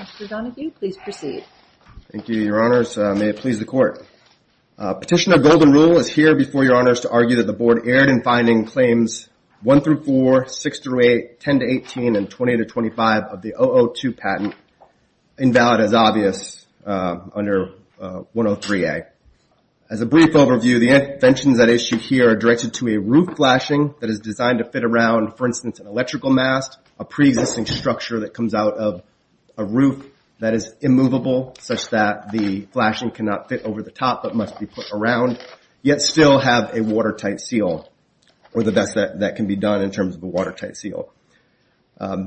Mr. Donoghue, please proceed. Thank you, Your Honors. May it please the Court. Petitioner Golden Rule is here before Your Honors to argue that the Board erred in finding claims 1-4, 6-8, 10-18, and 20-25 of the 002 patent invalid as obvious under 103A. As a brief overview, the interventions at issue here are directed to a roof flashing that is designed to fit around, for instance, an electrical mast, a pre-existing structure that comes out of a roof that is immovable, such that the flashing cannot fit over the top but must be put around, yet still have a watertight seal, or the best that can be done in terms of a watertight seal.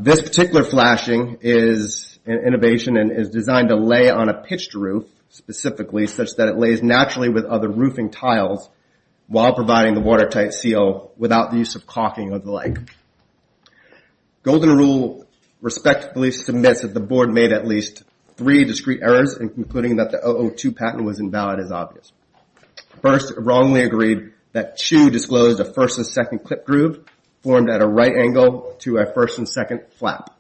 This particular flashing is an innovation and is designed to lay on a pitched roof, specifically, such that it lays naturally with other roofing tiles while providing the watertight seal without the use of caulking or the like. Golden Rule respectfully submits that the Board made at least three discrete errors in concluding that the 002 patent was invalid as obvious. First, it wrongly agreed that CHU disclosed a first and second clip groove formed at a right angle to a first and second flap.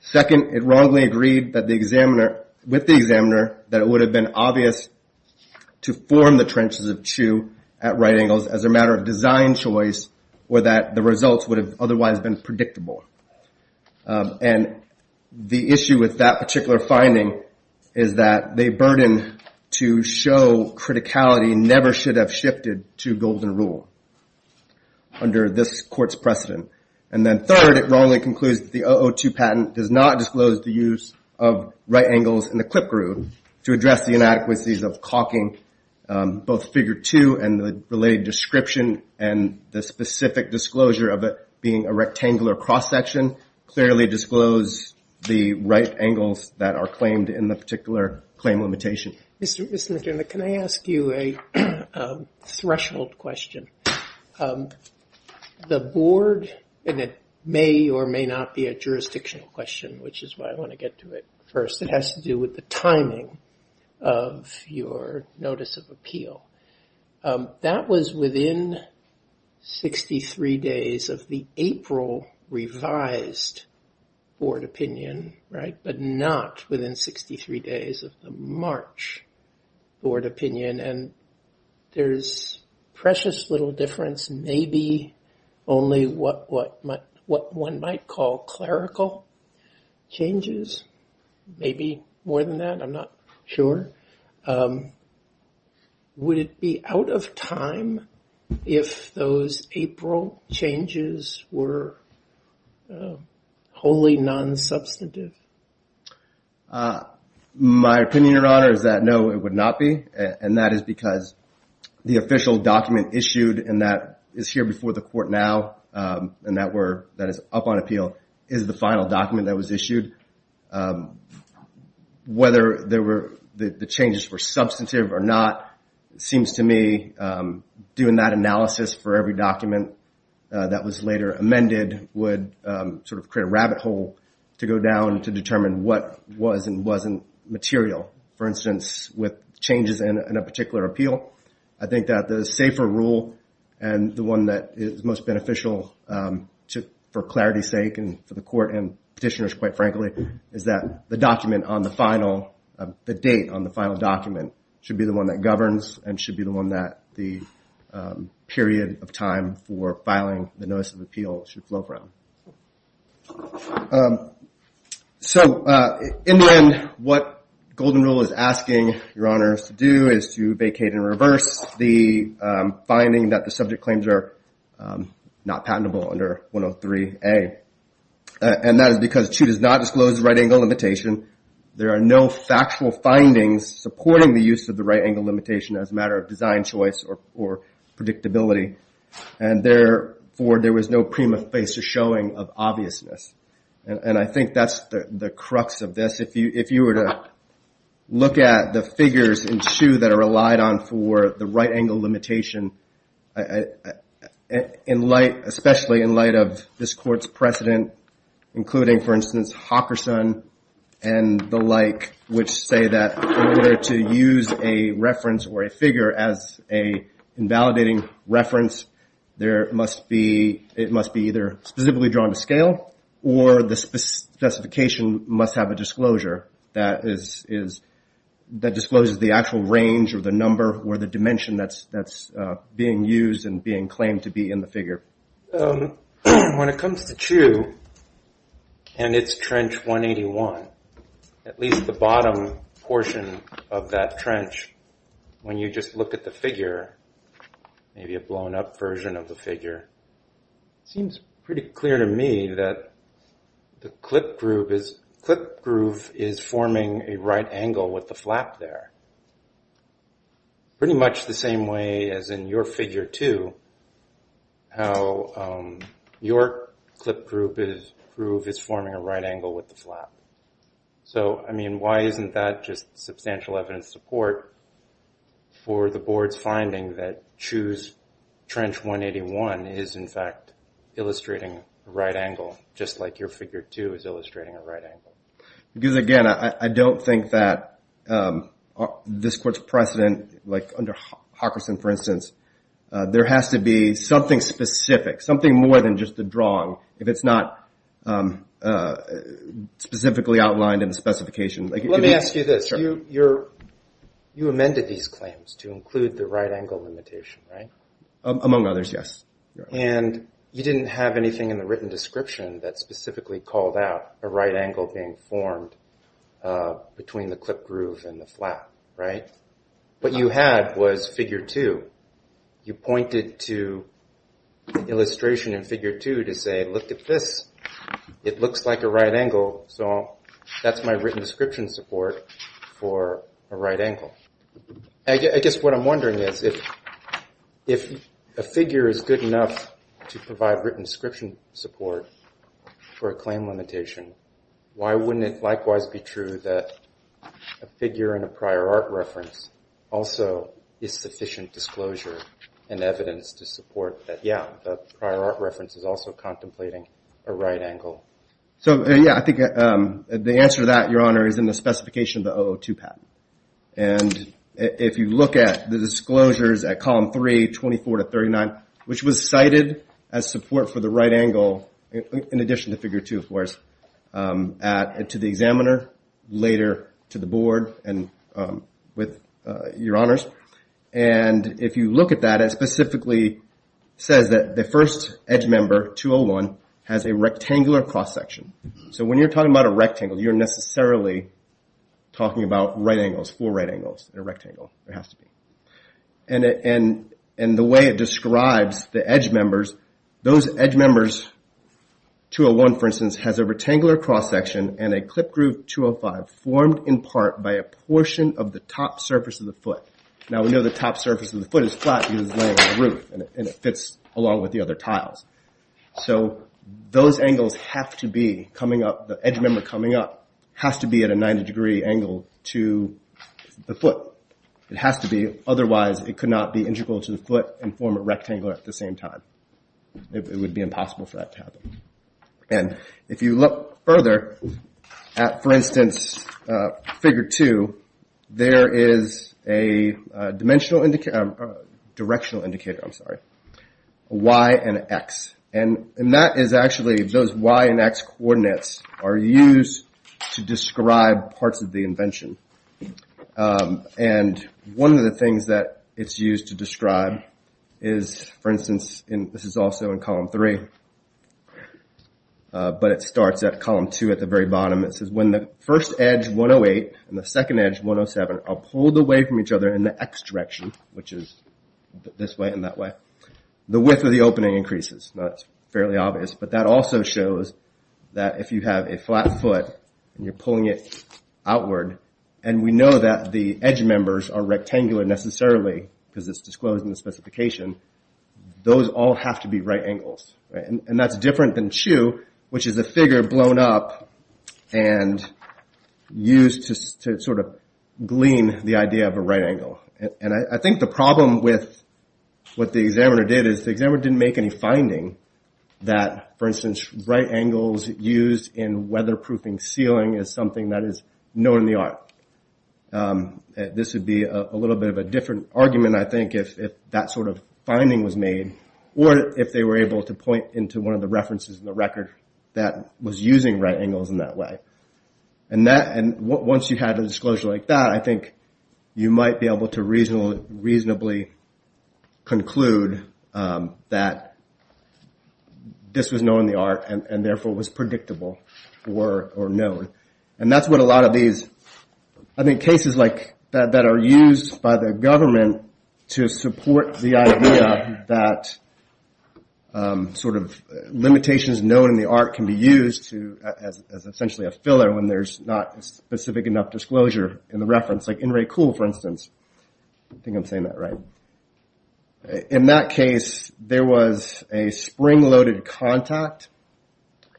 Second, it wrongly agreed that the examiner that it would have been obvious to form the trenches of CHU at right angles as a matter of design choice or that the results would have otherwise been predictable. And the issue with that particular finding is that the burden to show criticality never should have shifted to Golden Rule under this court's precedent. And then third, it wrongly concludes that the 002 patent does not disclose the use of right angles in the clip groove to address the inadequacies of caulking, both figure two and the related description and the specific disclosure of it being a rectangular cross-section clearly disclose the right angles that are claimed in the particular claim limitation. Can I ask you a threshold question? The Board, and it may or may not be a jurisdictional question, which is why I want to get to it first. It has to do with the timing of your notice of appeal. That was within 63 days of the April revised board opinion, right? But not within 63 days of the March board opinion. And there's precious little difference, maybe only what one might call clerical changes. Maybe more than that, I'm not sure. Would it be out of time if those April changes were wholly non-substantive? My opinion, Your Honor, is that no, it would not be. And that is because the official document issued and that is here before the court now and that is up on appeal is the final document that was issued. Whether the changes were substantive or not, it seems to me doing that analysis for every document that was later amended would sort of create a rabbit hole to go down to determine what was and wasn't material. For instance, with changes in a particular appeal, I think that the safer rule and the one that is most beneficial for clarity's sake and for the court and petitioners, quite frankly, is that the document on the final, the date on the final document should be the one that governs and should be the one that the period of time for filing the notice of appeal should flow from. So, in the end, what Golden Rule is asking Your Honors to do is to vacate and reverse the finding that the subject claims are not patentable under 103A. And that is because 2 does not disclose the right angle limitation. There are no factual findings supporting the use of the right angle limitation as a matter of design choice or predictability. And therefore, there was no prima facie showing of obviousness. And I think that's the crux of this. If you were to look at the figures in 2 that are relied on for the right angle limitation in light, especially in light of this court's precedent, including, for instance, Hawkerson and the like, which say that in order to use a reference or a figure as a invalidating reference there must be, it must be either specifically drawn to scale or the specification must have a disclosure that discloses the actual range or the number or the dimension that's being used and being claimed to be in the figure. When it comes to 2 and its trench 181, at least the bottom portion of that trench, when you just look at the figure maybe a blown up version of the figure it seems pretty clear to me that the clip groove is forming a right angle with the flap there. Pretty much the same way as in your figure 2 how your clip groove is forming a right angle with the flap. So, I mean, why isn't that just substantial evidence support for the board's finding that Chu's trench 181 is in fact illustrating a right angle just like your figure 2 is illustrating a right angle? Because, again, I don't think that this court's precedent, like under Hockerson for instance there has to be something specific, something more than just a drawing if it's not specifically outlined in the specification. Let me ask you this. You amended these claims to include the right angle limitation, right? Among others, yes. And you didn't have anything in the written description that specifically called out a right angle being formed between the clip groove and the flap, right? What you had was figure 2. You pointed to illustration in figure 2 to say, look at this. It looks like a right angle so that's my written description support for a right angle. I guess what I'm wondering is if a figure is good enough to provide written description support for a claim limitation, why wouldn't it likewise be true that a figure in a prior art reference also is sufficient disclosure and evidence to support that, yeah, the prior art reference is also contemplating a right angle? So, yeah, I think the answer to that, Your Honor is in the specification of the 002 patent. And if you look at the disclosures at column 3, 24 to 39, which was cited as support for the right angle, in addition to figure 2 of course, to the examiner, later to the board and with Your Honors. And if you look at that, it specifically says that the first edge member, 201, has a rectangular cross-section. So when you're talking about a rectangle, you're necessarily talking about right angles, four right angles in a rectangle. There has to be. And the way it describes the edge members, those edge members, 201 for instance, has a rectangular cross-section and a clip groove 205 formed in part by a portion of the top surface of the foot. Now we know the top surface of the foot is flat because it's laying on the roof and it fits along with the other tiles. So those angles have to be coming up, the edge member coming up has to be at a 90 degree angle to the foot. It has to be, otherwise it could not be integral to the foot and form a rectangular at the same time. It would be impossible for that to happen. And if you look further at, for instance, figure 2, there is a directional indicator Y and X. And that is actually those Y and X coordinates are used to describe parts of the invention. And one of the things that it's used to describe is, for instance, this is also in column 3, but it starts at column 2 at the very bottom. It says when the first edge 108 and the second edge 107 are pulled away from each other in the X direction, which is this way and that way, the width of the opening increases. Now that's fairly obvious, but that also shows that if you have a flat foot and you're pulling it outward, and we know that the edge members are rectangular necessarily, because it's disclosed in the specification, those all have to be right angles. And that's different than CHU, which is a figure blown up and used to sort of glean the idea of a right angle. And I think the problem with what the examiner did is the examiner didn't make any finding that, for instance, right proofing ceiling is something that is known in the art. This would be a little bit of a different argument, I think, if that sort of finding was made, or if they were able to point into one of the references in the record that was using right angles in that way. And once you had a disclosure like that, I think you might be able to reasonably conclude that this was known in the art and therefore was predictable or known. And that's what a lot of these I think cases like that are used by the government to support the idea that sort of limitations known in the art can be used as essentially a filler when there's not specific enough disclosure in the reference. Like in Ray Cool, for instance. I think I'm saying that right. In that case, there was a spring loaded contact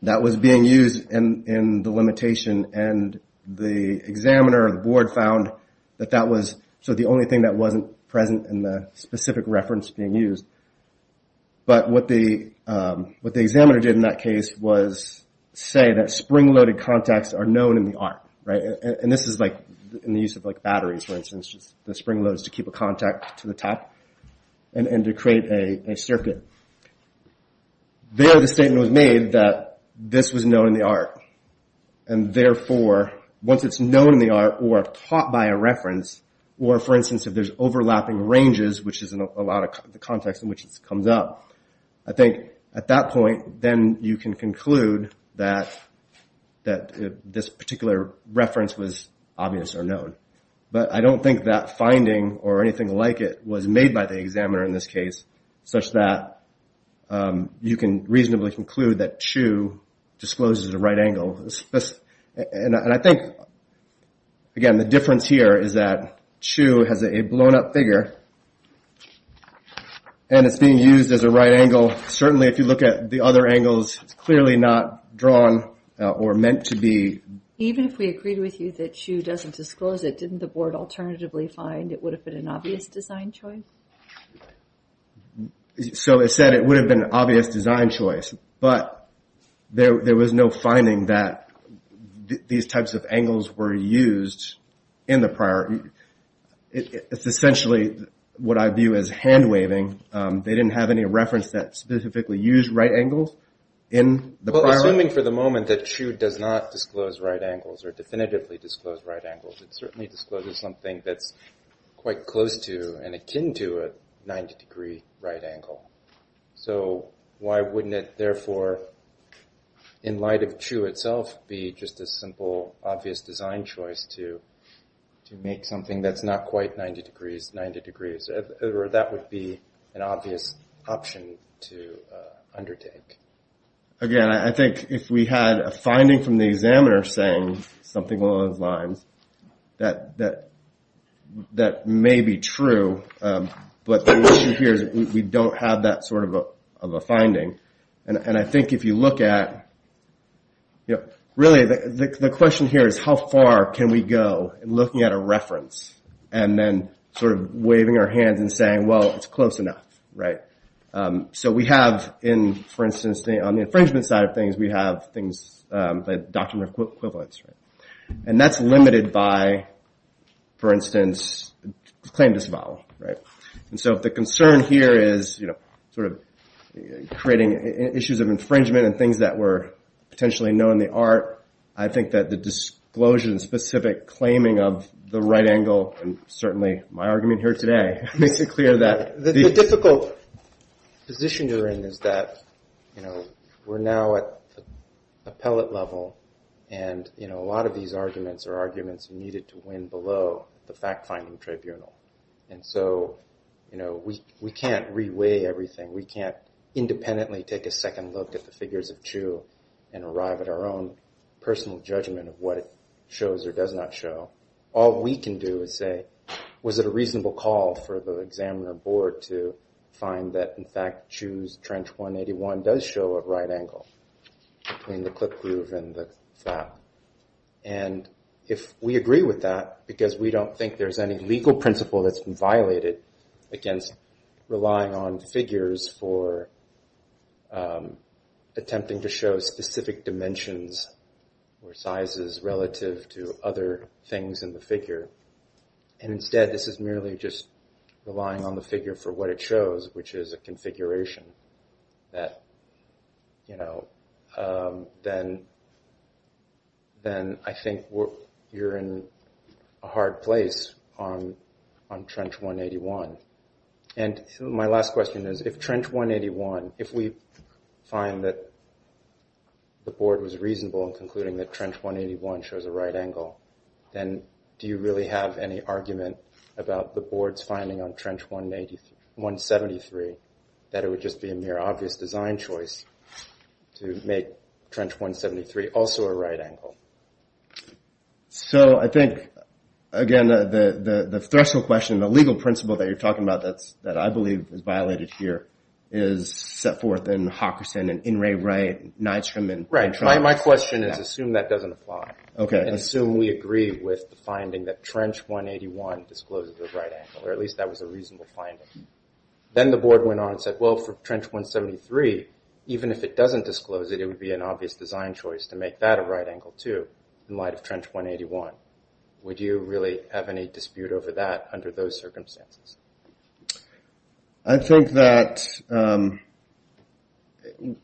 that was being used in the limitation and the examiner or the board found that that was the only thing that wasn't present in the specific reference being used. But what the examiner did in that case was say that spring loaded contacts are known in the art. And this is like in the use of batteries, for instance. The spring loads to keep a contact to the top and to create a circuit. There the statement was made that this was known in the art. And therefore, once it's known in the art or taught by a reference, or for instance if there's overlapping ranges which is a lot of the context in which this comes up, I think at that point, then you can conclude that this particular reference was obvious or known. But I don't think that finding or anything like it was made by the examiner in this case, such that you can reasonably conclude that Chu discloses the right angle. And I think, again, the difference here is that Chu has a blown up figure. And it's being used as a right angle. Certainly if you look at the other angles, it's clearly not drawn or meant to be. Even if we agreed with you that Chu doesn't disclose it, didn't the board alternatively find it would have been an obvious design choice? So it said it would have been an obvious design choice, but there was no finding that these types of angles were used in the prior. It's essentially what I view as hand waving. They didn't have any reference that specifically used right angles in the prior. Well, assuming for the moment that Chu does not disclose right angles or definitively disclose right angles, it certainly discloses something that's quite close to and akin to a 90 degree right angle. So why wouldn't it therefore in light of Chu itself be just a simple obvious design choice to make something that's not quite 90 degrees 90 degrees. Or that would be an obvious option to undertake. Again, I think if we had a finding from the examiner saying something along those lines, that may be true, but the issue here is we don't have that sort of a finding. And I think if you look at, really the question here is how far can we go in looking at a reference and then sort of waving our hands and saying, well, it's close enough. So we have in, for instance, on the infringement side of things we have things like doctrinal equivalence. And that's limited by, for instance, claim disavowal. And so if the concern here is sort of creating issues of infringement and things that were potentially known in the art, I think that the disclosure and specific claiming of the right angle, and certainly my argument here today, makes it clear that... The difficult position you're in is that we're now at appellate level, and a lot of these arguments are arguments needed to win below the fact-finding tribunal. And so we can't re-weigh everything. We can't independently take a second look at the figures of Chu and arrive at our own personal judgment of what it shows or does not show. All we can do is say, was it a reasonable call for the examiner board to find that, in fact, Chu's trench 181 does show a right angle between the clip groove and the flap. And if we agree with that, because we don't think there's any legal principle that's been violated against relying on figures for attempting to show specific dimensions or sizes relative to other things in the figure, and instead this is merely just relying on the figure for what it shows, which is a configuration that, you know, then I think you're in a hard place on trench 181. And my last question is, if trench 181, if we find that the board was reasonable in concluding that trench 181 shows a right angle, then do you really have any argument about the board's finding on trench 173 that it would just be a mere obvious design choice to make trench 173 also a right angle? So I think, again, the threshold question, the legal principle that you're talking about that I believe is violated here is set forth in Hawkinson and Nydstrom. My question is, assume that doesn't apply. Assume we agree with the finding that trench 181 discloses a right angle, or at least that was a reasonable finding. Then the board went on and said, well, for trench 173, even if it doesn't disclose it, it would be an obvious design choice to make that a right angle, too, in light of trench 181. Would you really have any dispute over that under those circumstances? I think that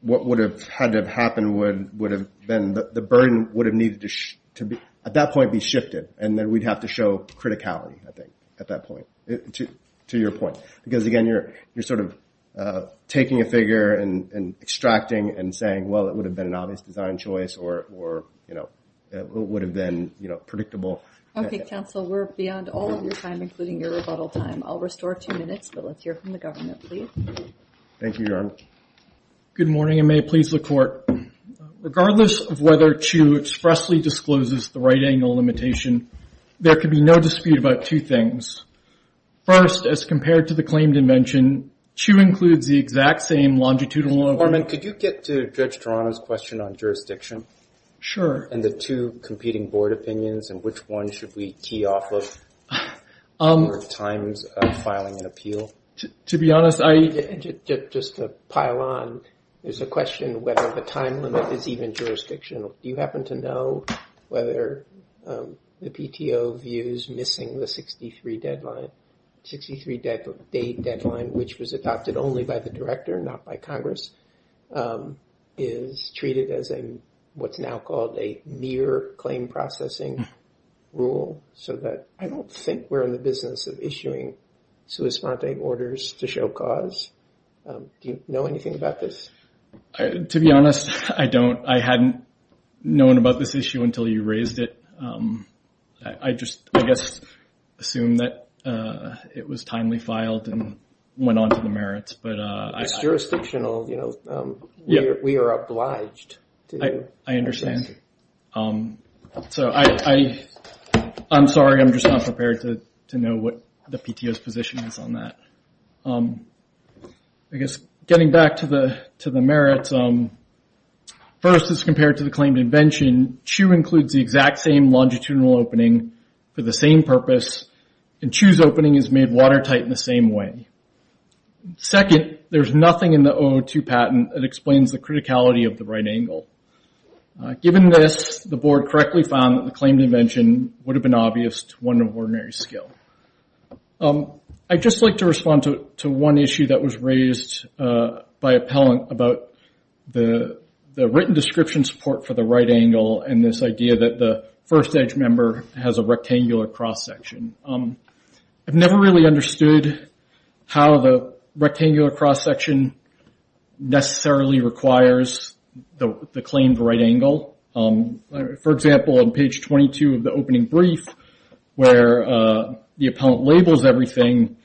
what would have had to have happened would have been the burden would have needed to, at that point, be shifted, and then we'd have to show criticality, I think, at that point, to your point. Because, again, you're sort of taking a figure and extracting and saying, well, it would have been an obvious design choice, or it would have been predictable. Okay, counsel, we're beyond all of your time, including your rebuttal time. I'll restore two minutes, but let's hear from the government, please. Thank you, Your Honor. Good morning, and may it please the Court. Regardless of whether Chu expressly discloses the right angle limitation, there can be no dispute about two things. First, as compared to the claim dimension, Chu includes the exact same longitudinal... Mr. Foreman, could you get to Judge Toronto's question on jurisdiction? Sure. And the two competing board opinions, and which one should we key off of for times of filing an appeal? To be honest, I... Just to pile on, there's a question whether the time limit is even jurisdictional. Do you happen to know whether the PTO views missing the 63 deadline... 63 date deadline, which was adopted only by the Director, not by Congress, is treated as what's now called a mere claim processing rule, so that I don't think we're in the business of issuing sua sponte orders to show cause. Do you know anything about this? To be honest, I don't. I hadn't known about this issue until you raised it. I just, I guess, assumed that it was timely filed and went on to the merits. It's jurisdictional. We are obliged to... I understand. I'm sorry, I'm just not prepared to know what the PTO's position is on that. I guess, getting back to the First, as compared to the claimed invention, CHOO includes the exact same longitudinal opening for the same purpose, and CHOO's opening is made watertight in the same way. Second, there's nothing in the O02 patent that explains the criticality of the right angle. Given this, the Board correctly found that the claimed invention would have been obvious to one of ordinary skill. I'd just like to respond to one issue that was raised by the written description support for the right angle and this idea that the First Edge member has a rectangular cross-section. I've never really understood how the rectangular cross-section necessarily requires the claimed right angle. For example, on page 22 of the opening brief, where the appellant labels everything,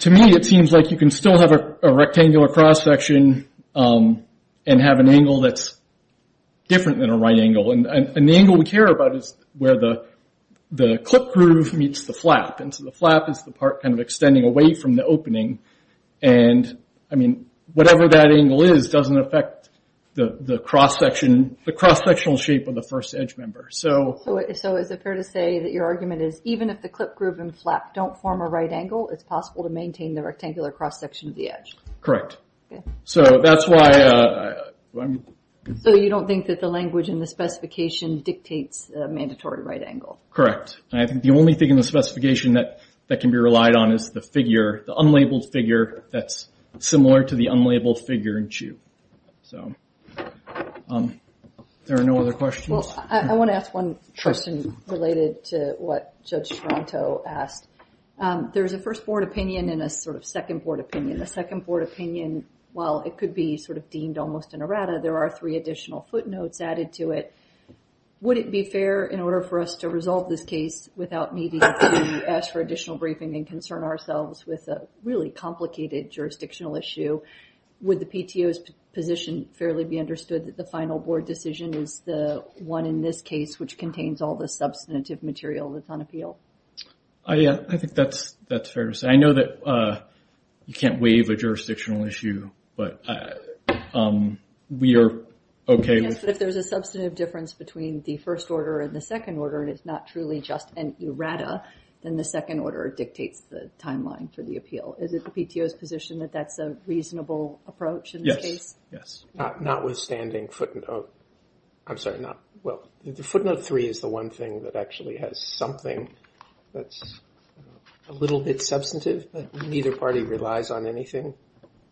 to me, it seems like you can still have a rectangular cross-section and have an angle that's different than a right angle. The angle we care about is where the clip groove meets the flap. The flap is the part extending away from the opening. Whatever that angle is doesn't affect the cross-sectional shape of the First Edge member. Even if the clip groove and flap don't form a right angle, it's possible to maintain the rectangular cross-section of the Edge. Correct. You don't think that the language in the specification dictates a mandatory right angle? Correct. I think the only thing in the specification that can be relied on is the figure, the unlabeled figure that's similar to the unlabeled figure in CHU. There are no other questions? I want to ask one question related to what Judge Toronto asked. There's a first board opinion and a second board opinion. The second board opinion, while it could be deemed almost an errata, there are three additional footnotes added to it. Would it be fair in order for us to resolve this case without needing to ask for additional briefing and concern ourselves with a really complicated jurisdictional issue? Would the PTO's position fairly be understood that the final board decision is the one in this case which contains all the substantive material that's on appeal? I think that's fair to say. I know that you can't waive a jurisdictional issue, but we are okay with... Yes, but if there's a substantive difference between the first order and the second order, and it's not truly just an errata, then the second order dictates the timeline for the appeal. Is it the PTO's position that that's a reasonable approach in this case? Yes. Notwithstanding footnote... I'm sorry, not... Well, the footnote three is the one thing that actually has something that's a little bit substantive, but neither party relies on anything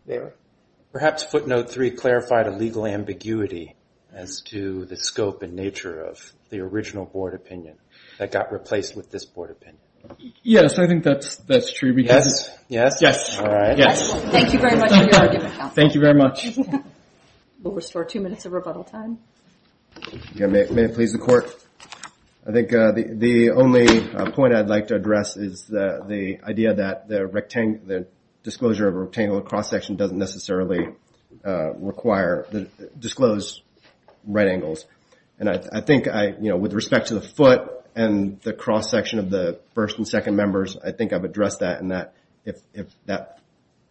there. Perhaps footnote three clarified a legal ambiguity as to the scope and nature of the original board opinion that got replaced with this board opinion. Yes, I think that's true because... Yes? Yes. Yes. Thank you very much. Thank you very much. We'll restore two minutes of rebuttal time. May it please the court? I think the only point I'd like to address is the idea that the disclosure of a rectangular cross-section doesn't necessarily require... disclose right angles. I think with respect to the foot and the cross-section of the first and second members, I think I've addressed that in that if that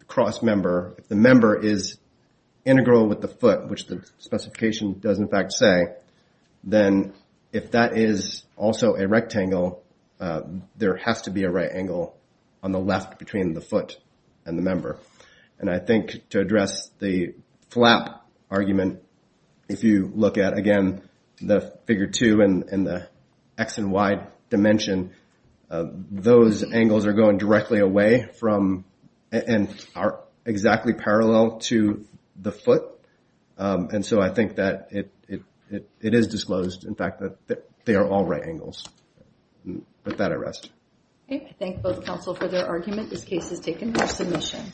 cross-member, if the member is integral with the foot, which the specification does in fact say, then if that is also a rectangle, there has to be a right angle on the left between the foot and the member. And I think to address the flap argument, if you look at, again, the figure two and the X and Y dimension, those angles are going directly away from... and are exactly parallel to the foot. And so I think that it is disclosed, in fact, that they are all right angles. With that, I rest. Okay. I thank both counsel for their argument. This case is taken for submission.